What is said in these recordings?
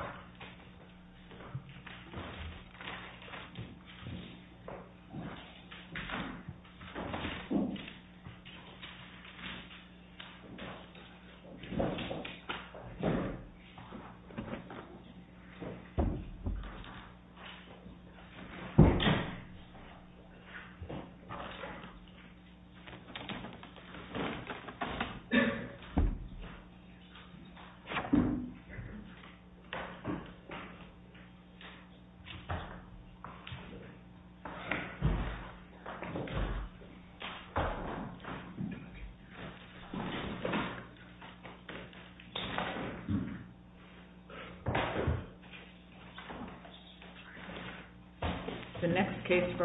Microsoft Office Word Document MSWordDoc Word.Document.8 Microsoft Office Word Document MSWordDoc Word.Document.8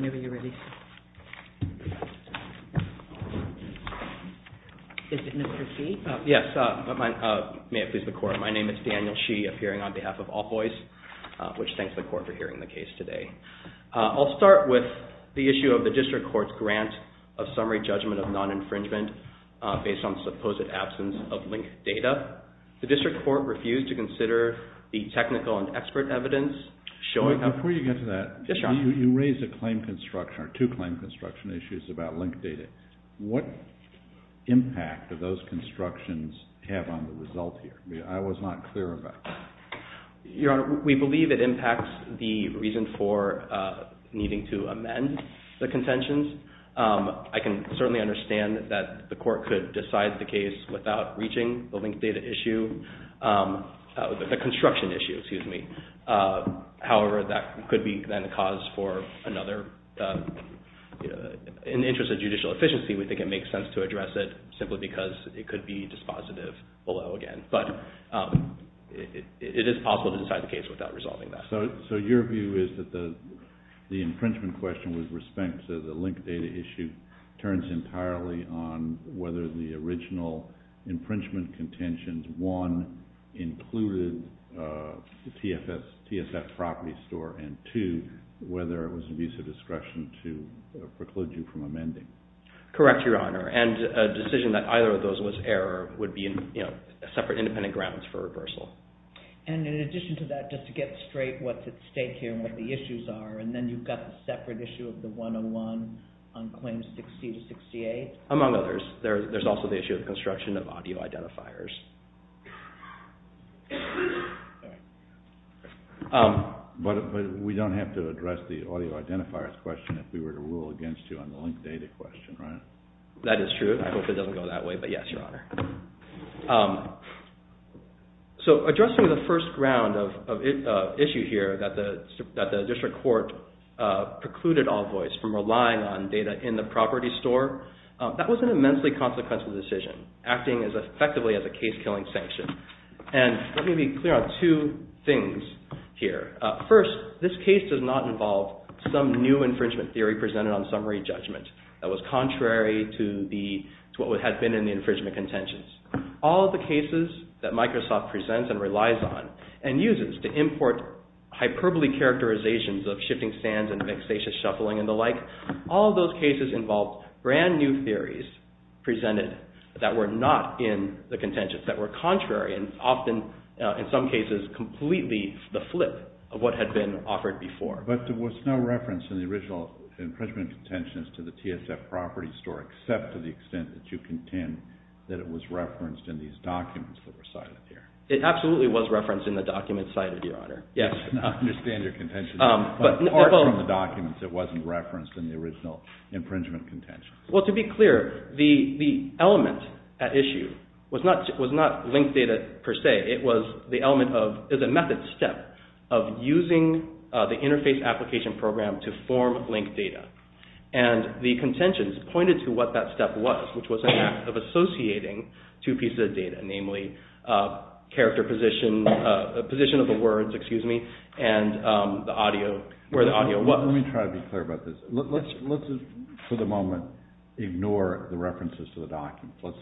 Whenever you're ready. Is it Mr. Shee? Yes. May it please the Court. My name is Daniel Shee, appearing on behalf of Allvoice, which thanks the Court for hearing the case today. I'll start with the issue of the District Court's grant of summary judgment of non-infringement based on supposed absence of linked data. The District Court refused to consider the technical and expert evidence showing how... Before you get to that, you raised a claim construction or two claim construction issues about linked data. What impact do those constructions have on the result here? I was not clear about that. Your Honor, we believe it impacts the reason for needing to amend the contentions. I can certainly understand that the Court could decide the case without reaching the linked data issue, the construction issue, excuse me. However, that could be then a cause for another... In the interest of judicial efficiency, we think it makes sense to address it simply because it could be dispositive below again. It is possible to decide the case without resolving that. So your view is that the infringement question with respect to the linked data issue turns entirely on whether the original infringement contentions, one, included the TSF property store, and two, whether it was an abuse of discretion to preclude you from amending. Correct, your Honor. And a decision that either of those was error would be separate independent grounds for reversal. And in addition to that, just to get straight what's at stake here and what the issues are, and then you've got the separate issue of the 101 on claims 60 to 68. Among others. There's also the issue of construction of audio identifiers. But we don't have to address the audio identifiers question if we were to rule against you on the linked data question, right? That is true. I hope it doesn't go that way, but yes, your Honor. So addressing the first ground of issue here that the district court precluded Allvoice from relying on data in the property store, that was an immensely consequential decision, acting as effectively as a case-killing sanction. And let me be clear on two things here. First, this case does not involve some new infringement theory presented on summary judgment that was contrary to what had been in the infringement contentions. All of the cases that Microsoft presents and relies on and uses to import hyperbole characterizations of shifting stands and vexatious shuffling and the like, all of those cases involved brand new theories presented that were not in the contentions, that were contrary and often, in some cases, completely the flip of what had been offered before. But there was no reference in the original infringement contentions to the TSF property store except to the extent that you contend that it was referenced in these documents that were cited here. It absolutely was referenced in the documents cited, your Honor. I understand your contention. But apart from the documents, it wasn't referenced in the original infringement contentions. Well, to be clear, the element at issue was not linked data per se. It was the element of the method step of using the interface application program to form linked data. And the contentions pointed to what that step was, which was an act of associating two pieces of data, namely character position, position of the words, excuse me, and the audio, where the audio was. Let me try to be clear about this. Let's, for the moment, ignore the references to the documents. Let's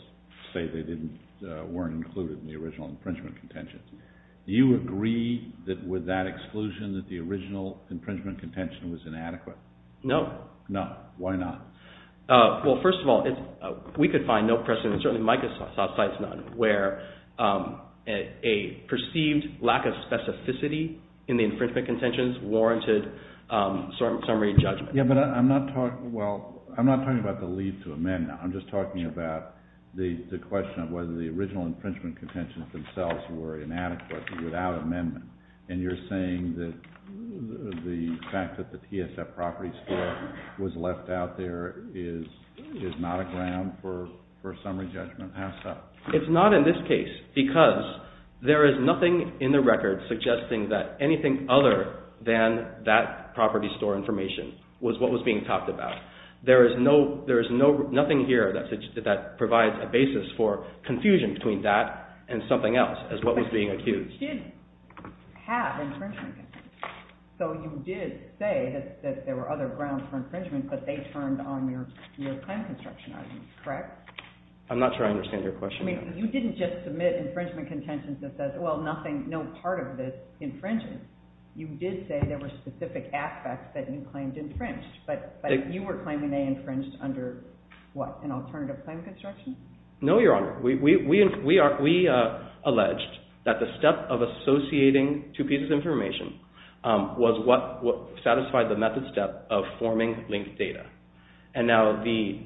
say they weren't included in the original infringement contentions. Do you agree that with that exclusion that the original infringement contention was inadequate? No. No. Why not? Well, first of all, we could find no precedent, and certainly Micah's side's none, where a perceived lack of specificity in the infringement contentions warranted summary judgment. Yeah, but I'm not talking about the leave to amend. I'm just talking about the question of whether the original infringement contentions themselves were inadequate without amendment. And you're saying that the fact that the PSF property store was left out there is not a ground for summary judgment? How so? It's not in this case because there is nothing in the record suggesting that anything other than that property store information was what was being talked about. There is nothing here that provides a basis for confusion between that and something else as what was being accused. But you did have infringement contentions. So you did say that there were other grounds for infringement, but they turned on your claim construction argument, correct? I'm not sure I understand your question. I mean, you didn't just submit infringement contentions that says, well, nothing, no part of this infringes. You did say there were specific aspects that you claimed infringed, but you were claiming they infringed under what, an alternative claim construction? No, Your Honor. We alleged that the step of associating two pieces of information was what satisfied the method step of forming linked data. And now the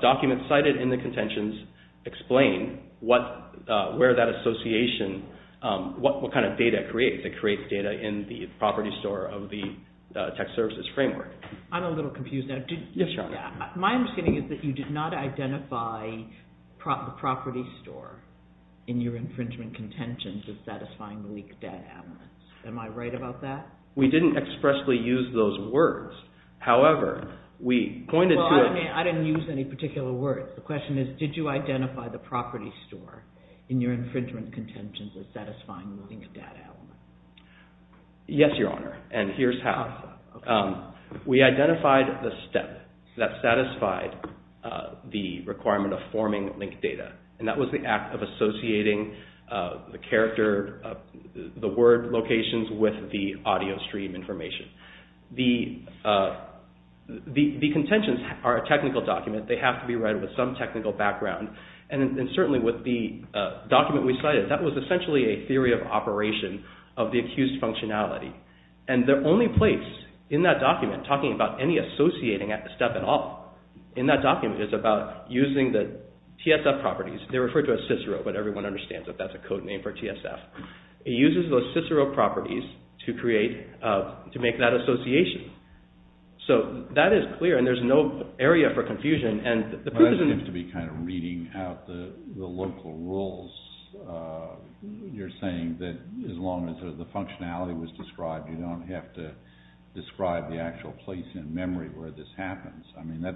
documents cited in the contentions explain where that association – what kind of data it creates. It creates data in the property store of the tax services framework. I'm a little confused now. My understanding is that you did not identify the property store in your infringement contentions as satisfying linked data elements. Am I right about that? We didn't expressly use those words. However, we pointed to – Well, I didn't use any particular words. The question is, did you identify the property store in your infringement contentions as satisfying linked data elements? Yes, Your Honor, and here's how. We identified the step that satisfied the requirement of forming linked data. And that was the act of associating the character – the word locations with the audio stream information. The contentions are a technical document. They have to be read with some technical background. And certainly with the document we cited, that was essentially a theory of operation of the accused functionality. And the only place in that document talking about any associating step at all in that document is about using the TSF properties. They're referred to as Cicero, but everyone understands that that's a code name for TSF. It uses those Cicero properties to create – to make that association. So that is clear and there's no area for confusion. But that seems to be kind of reading out the local rules. You're saying that as long as the functionality was described, you don't have to describe the actual place in memory where this happens. I mean, that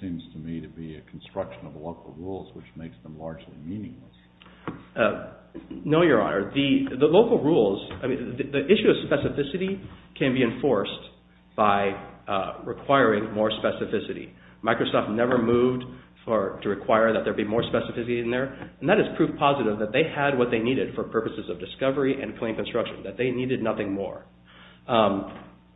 seems to me to be a construction of local rules, which makes them largely meaningless. No, Your Honor. The local rules – I mean, the issue of specificity can be enforced by requiring more specificity. Microsoft never moved to require that there be more specificity in there. And that is proof positive that they had what they needed for purposes of discovery and claim construction, that they needed nothing more.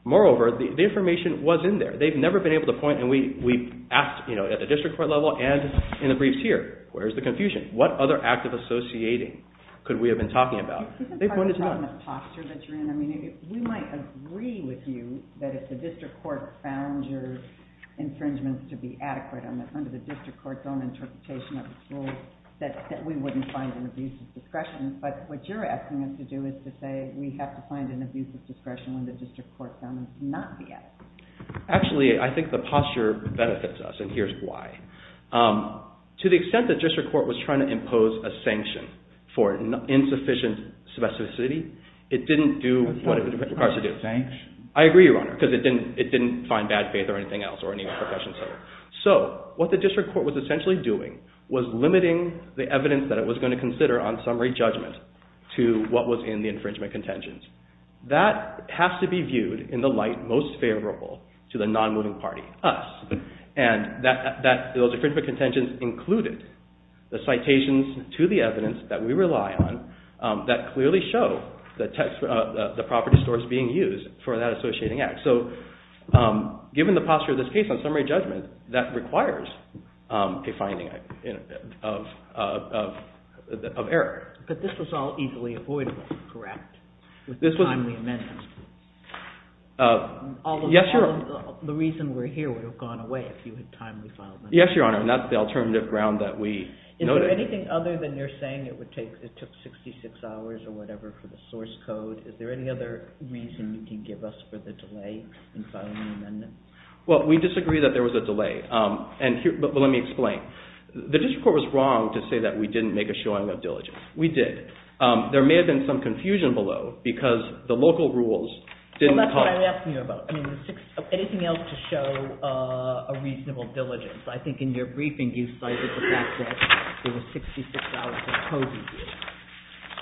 Moreover, the information was in there. They've never been able to point. And we asked at the district court level and in the briefs here, where's the confusion? What other act of associating could we have been talking about? We might agree with you that if the district court found your infringements to be adequate under the district court's own interpretation of the rules, that we wouldn't find an abuse of discretion. But what you're asking us to do is to say we have to find an abuse of discretion when the district court found it not adequate. Actually, I think the posture benefits us, and here's why. To the extent the district court was trying to impose a sanction for insufficient specificity, it didn't do what it required to do. I agree, Your Honor, because it didn't find bad faith or anything else or any other profession. So what the district court was essentially doing was limiting the evidence that it was going to consider on summary judgment to what was in the infringement contentions. That has to be viewed in the light most favorable to the non-moving party, us. And those infringement contentions included the citations to the evidence that we rely on that clearly show the property stores being used for that associating act. So given the posture of this case on summary judgment, that requires a finding of error. But this was all easily avoidable, correct, with timely amendments? Yes, Your Honor. The reason we're here would have gone away if you had timely filed amendments. Yes, Your Honor, and that's the alternative ground that we noted. Is there anything other than you're saying it took 66 hours or whatever for the source code? Is there any other reason you can give us for the delay in filing an amendment? Well, we disagree that there was a delay. But let me explain. The district court was wrong to say that we didn't make a showing of diligence. We did. There may have been some confusion below because the local rules didn't help. That's what I'm asking you about. Anything else to show a reasonable diligence? I think in your briefing you cited the fact that it was 66 hours of coding.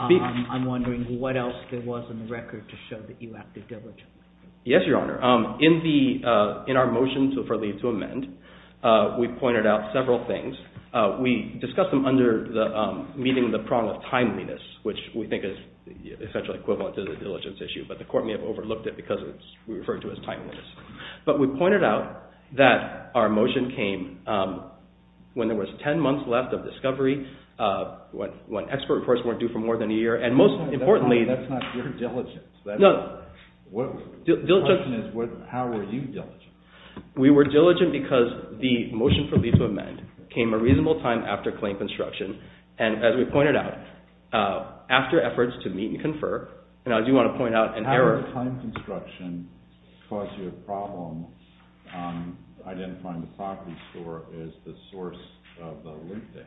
I'm wondering what else there was in the record to show that you acted diligently. Yes, Your Honor. In our motion for leave to amend, we pointed out several things. We discussed them under meeting the prong of timeliness, which we think is essentially equivalent to the diligence issue, but the court may have overlooked it because we refer to it as timeliness. But we pointed out that our motion came when there was 10 months left of discovery, when expert reports weren't due for more than a year, and most importantly— That's not your diligence. No. The question is how were you diligent? We were diligent because the motion for leave to amend came a reasonable time after claim construction, and as we pointed out, after efforts to meet and confer, and I do want to point out— How did the claim construction cause you a problem identifying the property store as the source of the link date?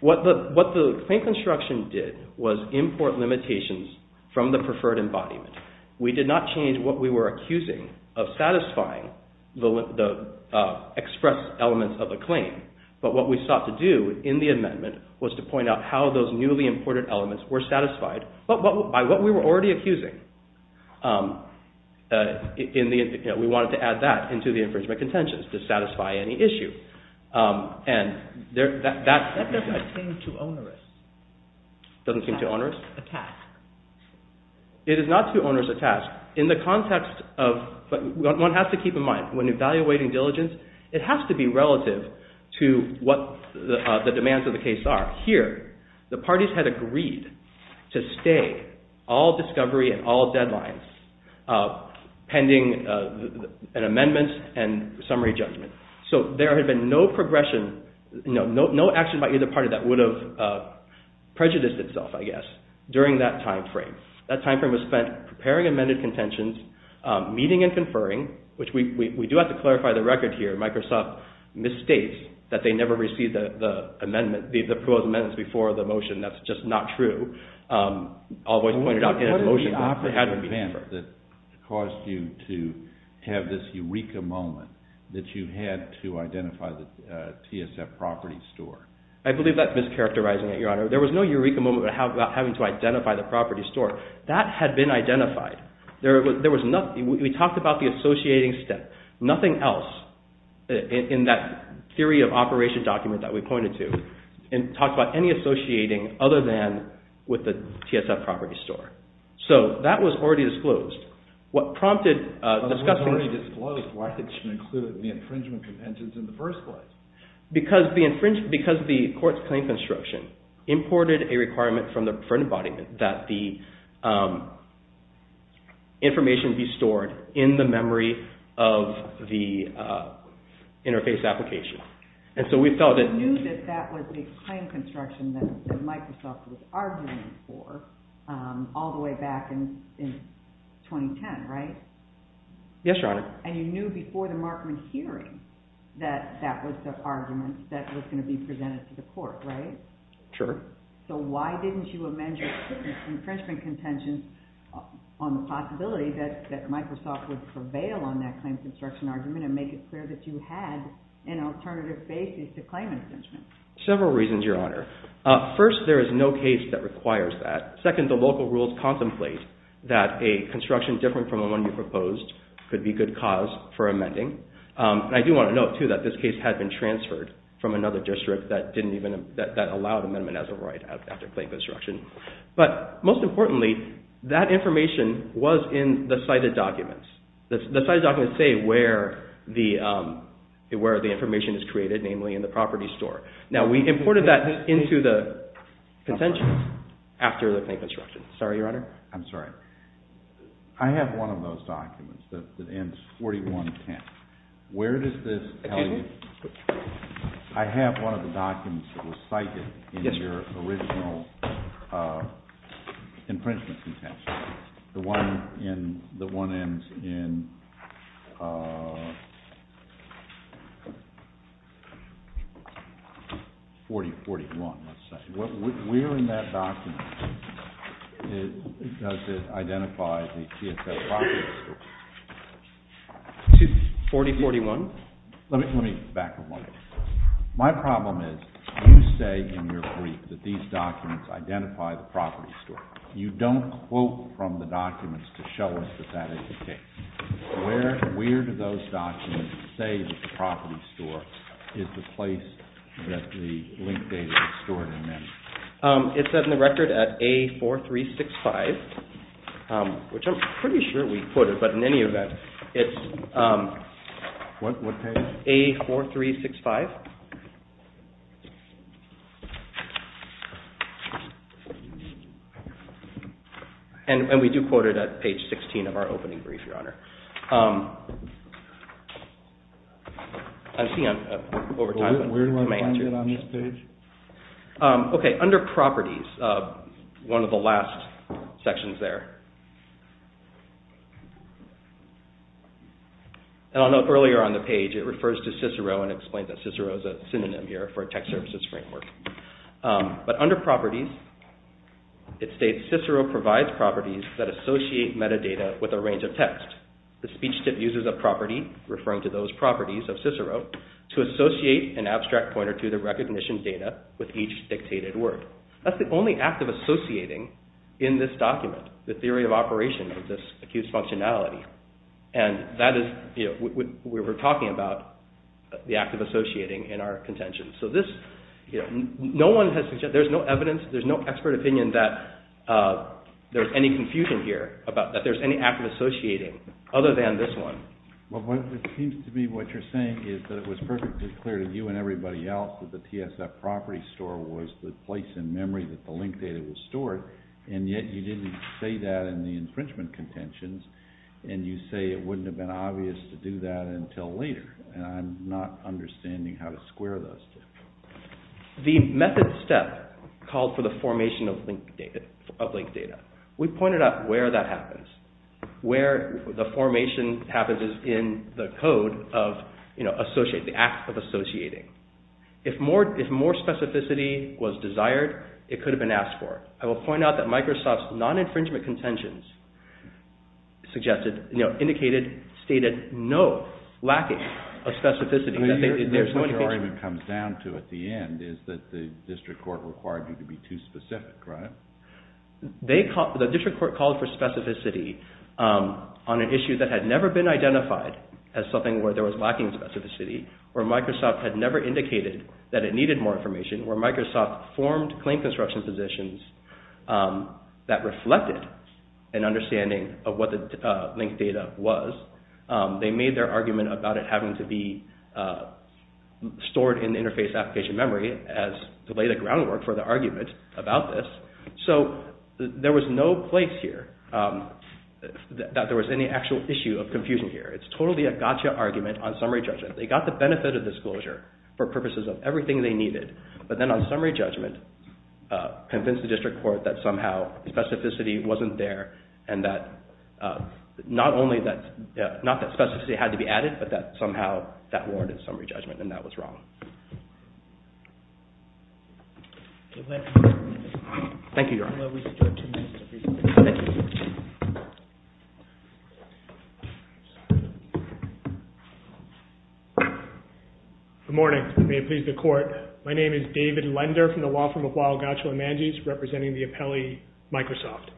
What the claim construction did was import limitations from the preferred embodiment. We did not change what we were accusing of satisfying the express elements of a claim, but what we sought to do in the amendment was to point out how those newly imported elements were satisfied by what we were already accusing. We wanted to add that into the infringement contentions to satisfy any issue. That doesn't seem too onerous. Doesn't seem too onerous? A task. It is not too onerous a task. In the context of—one has to keep in mind, when evaluating diligence, it has to be relative to what the demands of the case are. Here, the parties had agreed to stay all discovery and all deadlines pending an amendment and summary judgment. There had been no action by either party that would have prejudiced itself, I guess, during that time frame. That time frame was spent preparing amended contentions, meeting and conferring, which we do have to clarify the record here. Microsoft misstates that they never received the proposed amendments before the motion. That's just not true. What was the operative event that caused you to have this eureka moment that you had to identify the TSF property store? I believe that's mischaracterizing it, Your Honor. There was no eureka moment about having to identify the property store. That had been identified. We talked about the associating step. Nothing else in that theory of operation document that we pointed to talked about any associating other than with the TSF property store. That was already disclosed. What prompted discussing— It was already disclosed. Why did you include the infringement contentions in the first place? Because the court's claim construction imported a requirement for embodiment that the information be stored in the memory of the interface application. You knew that that was a claim construction that Microsoft was arguing for all the way back in 2010, right? Yes, Your Honor. And you knew before the Markman hearing that that was the argument that was going to be presented to the court, right? Sure. So why didn't you amend your infringement contentions on the possibility that Microsoft would prevail on that claim construction argument and make it clear that you had an alternative basis to claim infringement? Several reasons, Your Honor. First, there is no case that requires that. Second, the local rules contemplate that a construction different from the one you proposed could be good cause for amending. And I do want to note, too, that this case had been transferred from another district that didn't even— that allowed amendment as a right after claim construction. But most importantly, that information was in the cited documents. The cited documents say where the information is created, namely in the property store. Now, we imported that into the contentions after the claim construction. Sorry, Your Honor. I'm sorry. I have one of those documents that ends 4110. Where does this tell you? I have one of the documents that was cited in your original infringement contention, the one that ends in 4041, let's say. Where in that document does it identify the TSO property store? 4041. Let me back up on that. My problem is you say in your brief that these documents identify the property store. You don't quote from the documents to show us that that is the case. Where do those documents say that the property store is the place that the link data is stored in? It's in the record at A4365, which I'm pretty sure we put it, but in any event, it's— What page? A4365. And we do quote it at page 16 of our opening brief, Your Honor. I'm seeing over time— Where do I find it on this page? Okay, under properties, one of the last sections there. And I'll note earlier on the page, it refers to Cicero and explains that Cicero is a synonym here for a text services framework. But under properties, it states, Cicero provides properties that associate metadata with a range of text. The speech tip uses a property, referring to those properties of Cicero, to associate an abstract pointer to the recognition data with each dictated word. That's the only act of associating in this document, the theory of operation of this accused functionality. And that is—we were talking about the act of associating in our contention. So this—no one has—there's no evidence, there's no expert opinion that there's any confusion here, that there's any act of associating other than this one. Well, it seems to me what you're saying is that it was perfectly clear to you and everybody else that the PSF property store was the place in memory that the link data was stored, and yet you didn't say that in the infringement contentions, and you say it wouldn't have been obvious to do that until later. And I'm not understanding how to square those two. The method step called for the formation of link data. We pointed out where that happens. Where the formation happens is in the code of associate, the act of associating. If more specificity was desired, it could have been asked for. I will point out that Microsoft's non-infringement contentions suggested—indicated, stated no lacking of specificity. What your argument comes down to at the end is that the district court required you to be too specific, right? The district court called for specificity on an issue that had never been identified as something where there was lacking specificity, where Microsoft had never indicated that it needed more information, where Microsoft formed claim construction positions that reflected an understanding of what the link data was. They made their argument about it having to be stored in interface application memory as to lay the groundwork for the argument about this. So there was no place here that there was any actual issue of confusion here. It's totally a gotcha argument on summary judgment. They got the benefit of disclosure for purposes of everything they needed, but then on summary judgment convinced the district court that somehow specificity wasn't there and that not only that—not that specificity had to be added, but that somehow that warranted summary judgment and that was wrong. Thank you, Your Honor. Thank you. Good morning. May it please the Court. My name is David Lender from the law firm of Weill, Gottschall & Manges, representing the appellee Microsoft.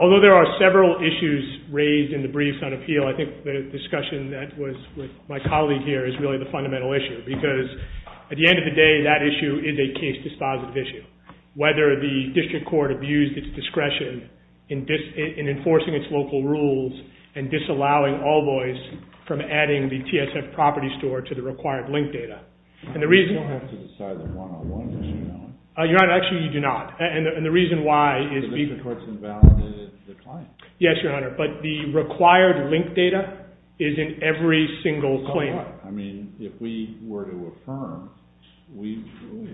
Although there are several issues raised in the briefs on appeal, I think the discussion that was with my colleague here is really the fundamental issue because at the end of the day that issue is a case dispositive issue, whether the district court abused its discretion in enforcing its local rules and disallowing Allboys from adding the TSF property store to the required link data. I don't have to decide the one-on-one issue, Your Honor. Your Honor, actually you do not, and the reason why is— The district court's invalidated the claim. Yes, Your Honor, but the required link data is in every single claim. I mean, if we were to affirm, we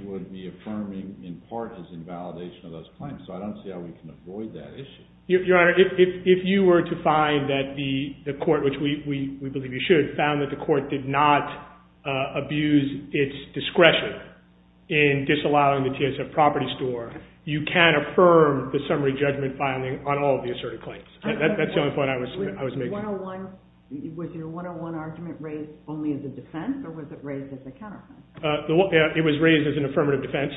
would be affirming in part as invalidation of those claims, so I don't see how we can avoid that issue. Your Honor, if you were to find that the court, which we believe you should, found that the court did not abuse its discretion in disallowing the TSF property store, you can affirm the summary judgment filing on all of the asserted claims. That's the only point I was making. Was your one-on-one argument raised only as a defense, or was it raised as a counterclaim? It was raised as an affirmative defense,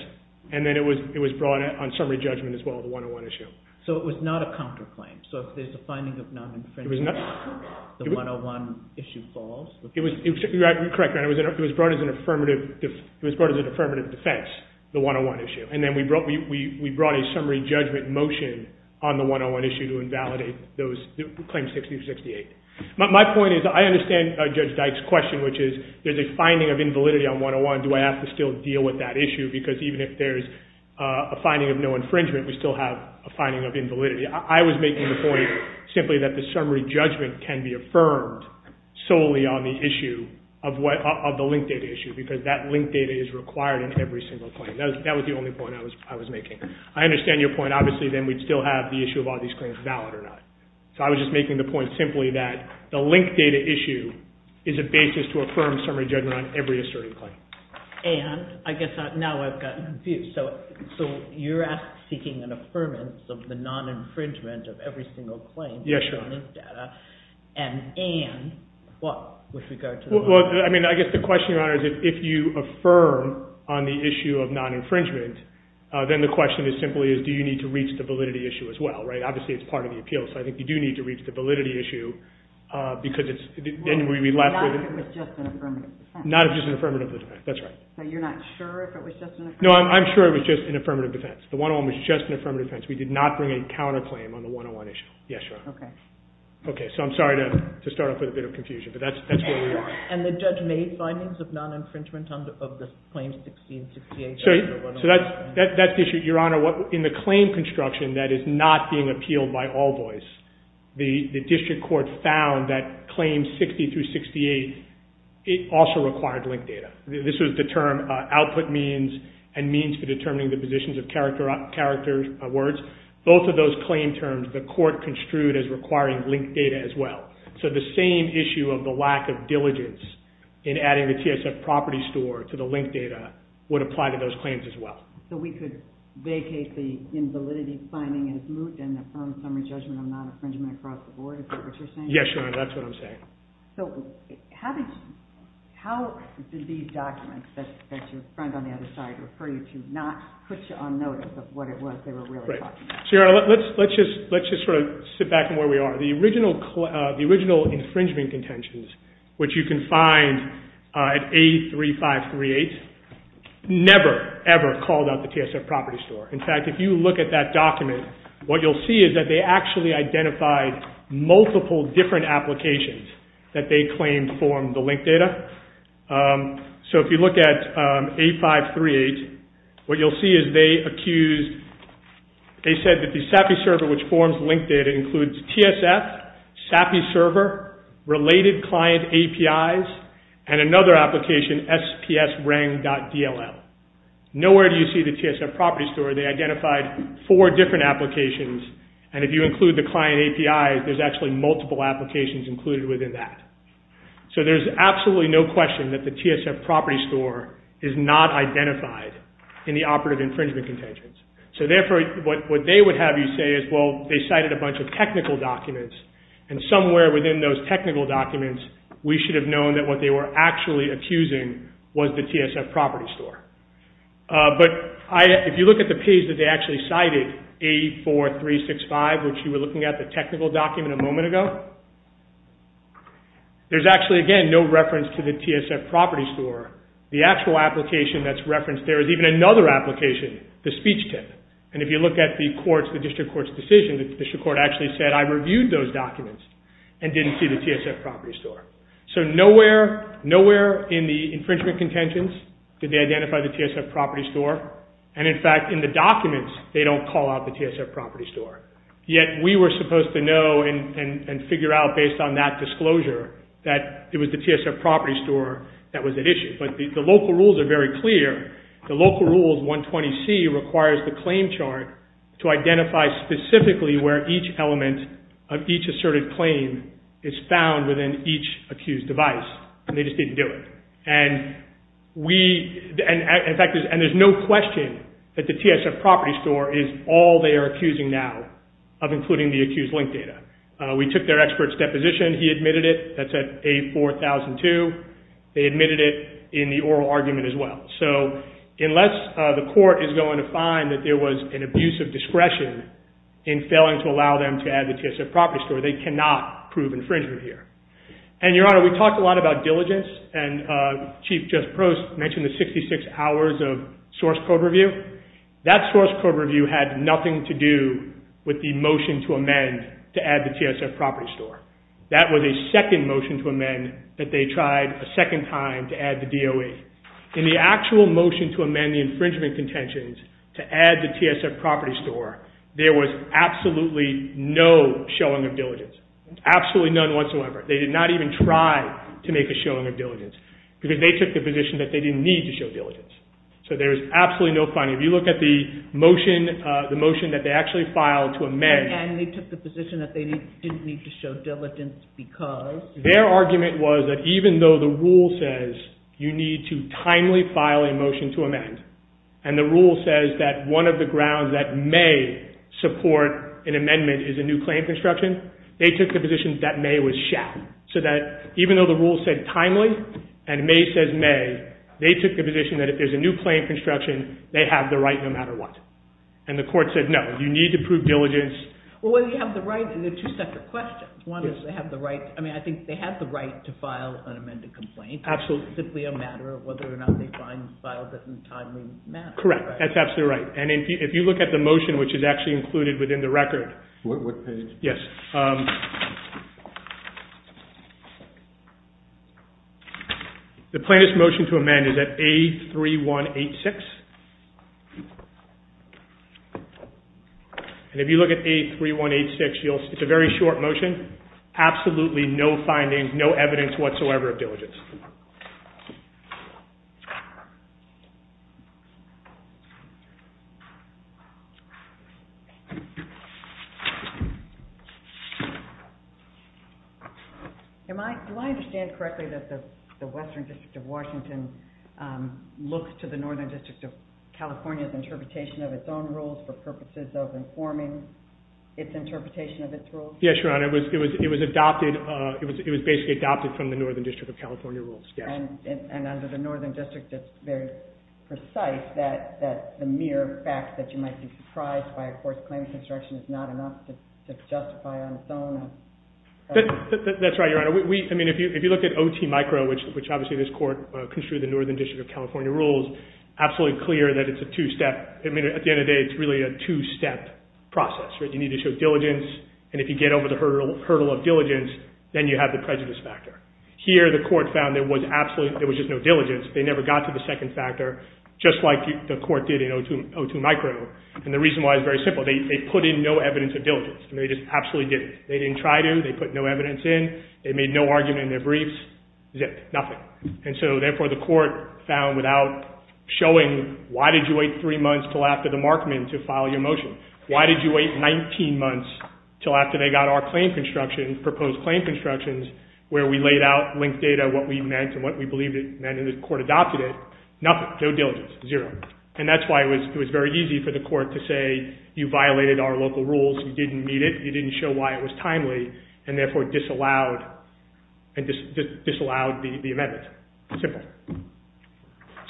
and then it was brought on summary judgment as well, the one-on-one issue. So it was not a counterclaim? So if there's a finding of non-defense, the one-on-one issue falls? You're correct, Your Honor. It was brought as an affirmative defense, the one-on-one issue, and then we brought a summary judgment motion on the one-on-one issue to invalidate Claim 6068. My point is I understand Judge Dyke's question, which is there's a finding of invalidity on one-on-one. Do I have to still deal with that issue? Because even if there's a finding of no infringement, we still have a finding of invalidity. I was making the point simply that the summary judgment can be affirmed solely on the issue, of the linked data issue, because that linked data is required in every single claim. That was the only point I was making. I understand your point. Obviously, then we'd still have the issue of are these claims valid or not. So I was just making the point simply that the linked data issue is a basis to affirm summary judgment on every asserted claim. And I guess now I've gotten confused. So you're seeking an affirmance of the non-infringement of every single claim? And what with regard to the non-infringement? Well, I mean, I guess the question, Your Honor, is if you affirm on the issue of non-infringement, then the question is simply do you need to reach the validity issue as well, right? Obviously, it's part of the appeal, so I think you do need to reach the validity issue because it's – Well, not if it was just an affirmative defense. Not if it was just an affirmative defense. That's right. So you're not sure if it was just an affirmative defense? No, I'm sure it was just an affirmative defense. The one-on-one was just an affirmative defense. We did not bring a counterclaim on the one-on-one issue. Yes, Your Honor. Okay, so I'm sorry to start off with a bit of confusion, but that's what we – And the judge made findings of non-infringement of the Claims 16 and 68. So that's the issue, Your Honor. In the claim construction that is not being appealed by all voice, the district court found that Claims 60 through 68 also required linked data. This was the term output means and means for determining the positions of character words. Both of those claim terms, the court construed as requiring linked data as well. So the same issue of the lack of diligence in adding the TSF property store to the linked data would apply to those claims as well. So we could vacate the invalidity finding as moot and affirm summary judgment on non-infringement across the board? Is that what you're saying? Yes, Your Honor, that's what I'm saying. So how did these documents that your friend on the other side referred you to not put you on notice of what it was they were really talking about? So, Your Honor, let's just sort of sit back and where we are. The original infringement contentions, which you can find at A3538, never, ever called out the TSF property store. In fact, if you look at that document, what you'll see is that they actually identified multiple different applications that they claimed formed the linked data. So if you look at A538, what you'll see is they accused, they said that the SAPI server which forms linked data includes TSF, SAPI server, related client APIs, and another application, SPSRANG.DLL. Nowhere do you see the TSF property store. They identified four different applications, and if you include the client API, there's actually multiple applications included within that. So there's absolutely no question that the TSF property store is not identified in the operative infringement contentions. So therefore, what they would have you say is, well, they cited a bunch of technical documents, and somewhere within those technical documents, we should have known that what they were actually accusing was the TSF property store. But if you look at the page that they actually cited, A4365, which you were looking at the technical document a moment ago, there's actually, again, no reference to the TSF property store. The actual application that's referenced there is even another application, the speech tip. And if you look at the court's, the district court's decision, the district court actually said, I reviewed those documents and didn't see the TSF property store. So nowhere, nowhere in the infringement contentions did they identify the TSF property store. And in fact, in the documents, they don't call out the TSF property store. Yet we were supposed to know and figure out based on that disclosure that it was the TSF property store that was at issue. But the local rules are very clear. The local rules 120C requires the claim chart to identify specifically where each element of each asserted claim is found within each accused device. And they just didn't do it. And we, in fact, and there's no question that the TSF property store is all they are accusing now of including the accused link data. We took their expert's deposition. He admitted it. That's at A4002. They admitted it in the oral argument as well. So unless the court is going to find that there was an abuse of discretion in failing to allow them to add the TSF property store, they cannot prove infringement here. And, Your Honor, we talked a lot about diligence, and Chief Just Post mentioned the 66 hours of source code review. That source code review had nothing to do with the motion to amend to add the TSF property store. That was a second motion to amend that they tried a second time to add the DOE. In the actual motion to amend the infringement contentions to add the TSF property store, there was absolutely no showing of diligence. Absolutely none whatsoever. They did not even try to make a showing of diligence because they took the position that they didn't need to show diligence. So there was absolutely no finding. If you look at the motion that they actually filed to amend. And they took the position that they didn't need to show diligence because? Their argument was that even though the rule says you need to timely file a motion to amend, and the rule says that one of the grounds that may support an amendment is a new claim construction, they took the position that may was shall. So that even though the rule said timely and may says may, they took the position that if there's a new claim construction, they have the right no matter what. And the court said no. You need to prove diligence. Well, you have the right. And there are two separate questions. One is they have the right. I mean, I think they have the right to file an amended complaint. Absolutely. It's simply a matter of whether or not they find the file doesn't timely matter. Correct. That's absolutely right. And if you look at the motion which is actually included within the record. What page? Yes. The plaintiff's motion to amend is at A3186. And if you look at A3186, it's a very short motion. Absolutely no findings, no evidence whatsoever of diligence. Do I understand correctly that the Western District of Washington looks to the Northern District of California's interpretation of its own rules for purposes of informing its interpretation of its rules? Yes, Your Honor. It was adopted. It was basically adopted from the Northern District of California rules. Yes. And under the Northern District, it's very precise that the mere fact that you might be surprised by a court's claim construction is not enough to justify on its own. That's right, Your Honor. If you look at OT micro, which obviously this court construed the Northern District of California rules, absolutely clear that it's a two-step. At the end of the day, it's really a two-step process. You need to show diligence. And if you get over the hurdle of diligence, then you have the prejudice factor. Here, the court found there was just no diligence. They never got to the second factor, just like the court did in O2 micro. And the reason why is very simple. They put in no evidence of diligence. They just absolutely didn't. They didn't try to. They put no evidence in. They made no argument in their briefs. Zipped, nothing. And so, therefore, the court found without showing, why did you wait three months until after the Markman to file your motion? Why did you wait 19 months until after they got our claim construction, proposed claim constructions, where we laid out linked data, what we meant and what we believed it meant, and the court adopted it. Nothing, no diligence, zero. And that's why it was very easy for the court to say, you violated our local rules. You didn't meet it. You didn't show why it was timely and, therefore, disallowed the amendment. Simple.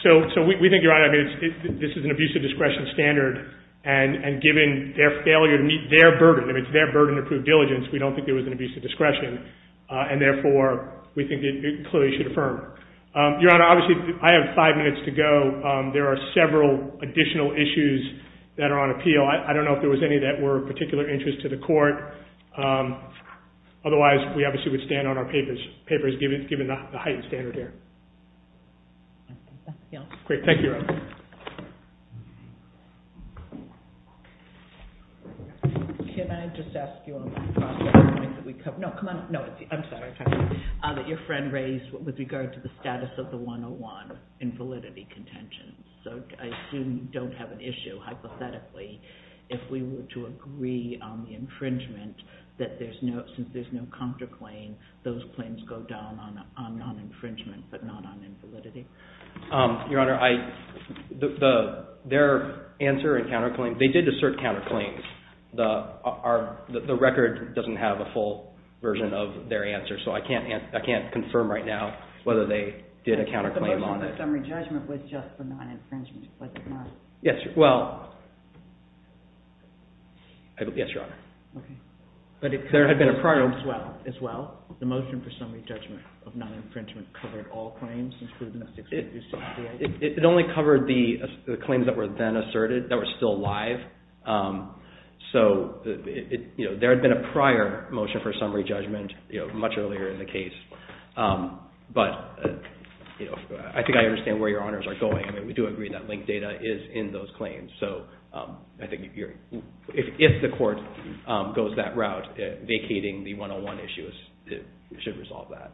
So we think, Your Honor, this is an abuse of discretion standard. And given their failure to meet their burden, if it's their burden to prove diligence, we don't think there was an abuse of discretion. And, therefore, we think it clearly should affirm. Your Honor, obviously, I have five minutes to go. There are several additional issues that are on appeal. I don't know if there was any that were of particular interest to the court. Otherwise, we obviously would stand on our papers, papers given the heightened standard here. Great. Thank you, Your Honor. Can I just ask you on that? No, come on. No, I'm sorry. Your friend raised with regard to the status of the 101 in validity contention. So I assume you don't have an issue, hypothetically, if we were to agree on the infringement, that since there's no counterclaim, those claims go down on non-infringement but not on invalidity. Your Honor, their answer and counterclaim, they did assert counterclaims. The record doesn't have a full version of their answer. So I can't confirm right now whether they did a counterclaim on it. The motion for summary judgment was just for non-infringement. Yes. Well, yes, Your Honor. Okay. But there had been a prior. As well, the motion for summary judgment of non-infringement covered all claims, including the 608. It only covered the claims that were then asserted that were still live. So there had been a prior motion for summary judgment much earlier in the case. But I think I understand where Your Honors are going. I mean, we do agree that linked data is in those claims. So I think if the court goes that route, vacating the 101 issues, it should resolve that.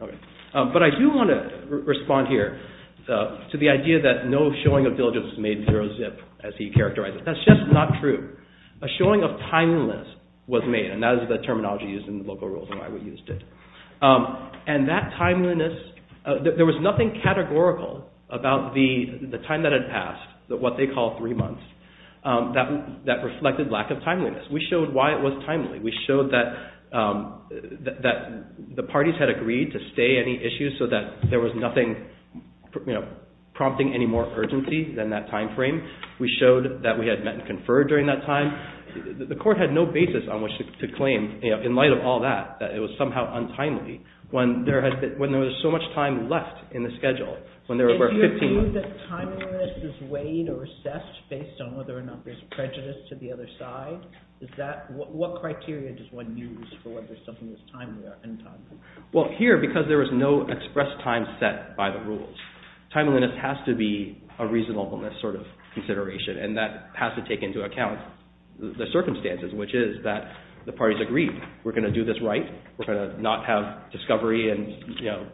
Okay. But I do want to respond here to the idea that no showing of diligence made zero zip as he characterized it. That's just not true. A showing of timeliness was made, and that is the terminology used in the local rules and why we used it. And that timeliness, there was nothing categorical about the time that had passed, what they call three months, that reflected lack of timeliness. We showed why it was timely. We showed that the parties had agreed to stay any issues so that there was nothing prompting any more urgency than that time frame. We showed that we had met and conferred during that time. The court had no basis on which to claim, in light of all that, that it was somehow untimely when there was so much time left in the schedule. If you're saying that timeliness is weighed or assessed based on whether or not there's prejudice to the other side, what criteria does one use for whether something is timely or untimely? Well, here, because there was no express time set by the rules, timeliness has to be a reasonableness sort of consideration, and that has to take into account the circumstances, which is that the parties agreed, we're going to do this right, we're going to not have discovery and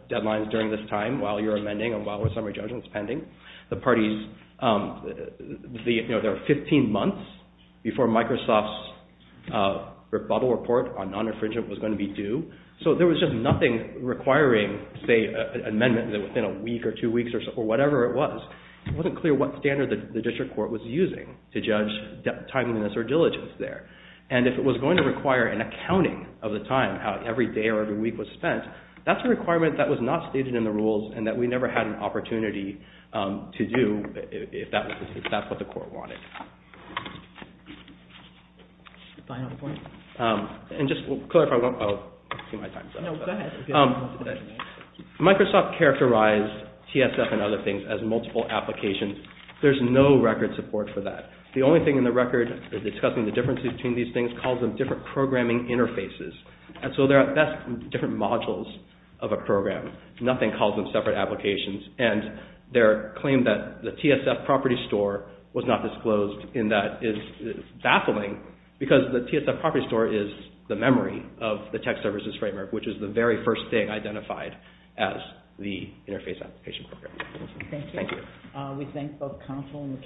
deadlines during this time while you're amending and while the summary judgment is pending. There were 15 months before Microsoft's rebuttal report on non-infringement was going to be due, so there was just nothing requiring, say, an amendment within a week or two weeks or whatever it was. It wasn't clear what standard the district court was using to judge timeliness or diligence there, and if it was going to require an accounting of the time, how every day or every week was spent, that's a requirement that was not stated in the rules and that we never had an opportunity to do if that's what the court wanted. Just to clarify, Microsoft characterized TSF and other things as multiple applications. There's no record support for that. The only thing in the record discussing the differences between these things calls them different programming interfaces, and so that's different modules of a program. Nothing calls them separate applications, and their claim that the TSF property store was not disclosed in that is baffling because the TSF property store is the memory of the tech services framework, which is the very first thing identified as the interface application program. Thank you. We thank both counsel and the cases.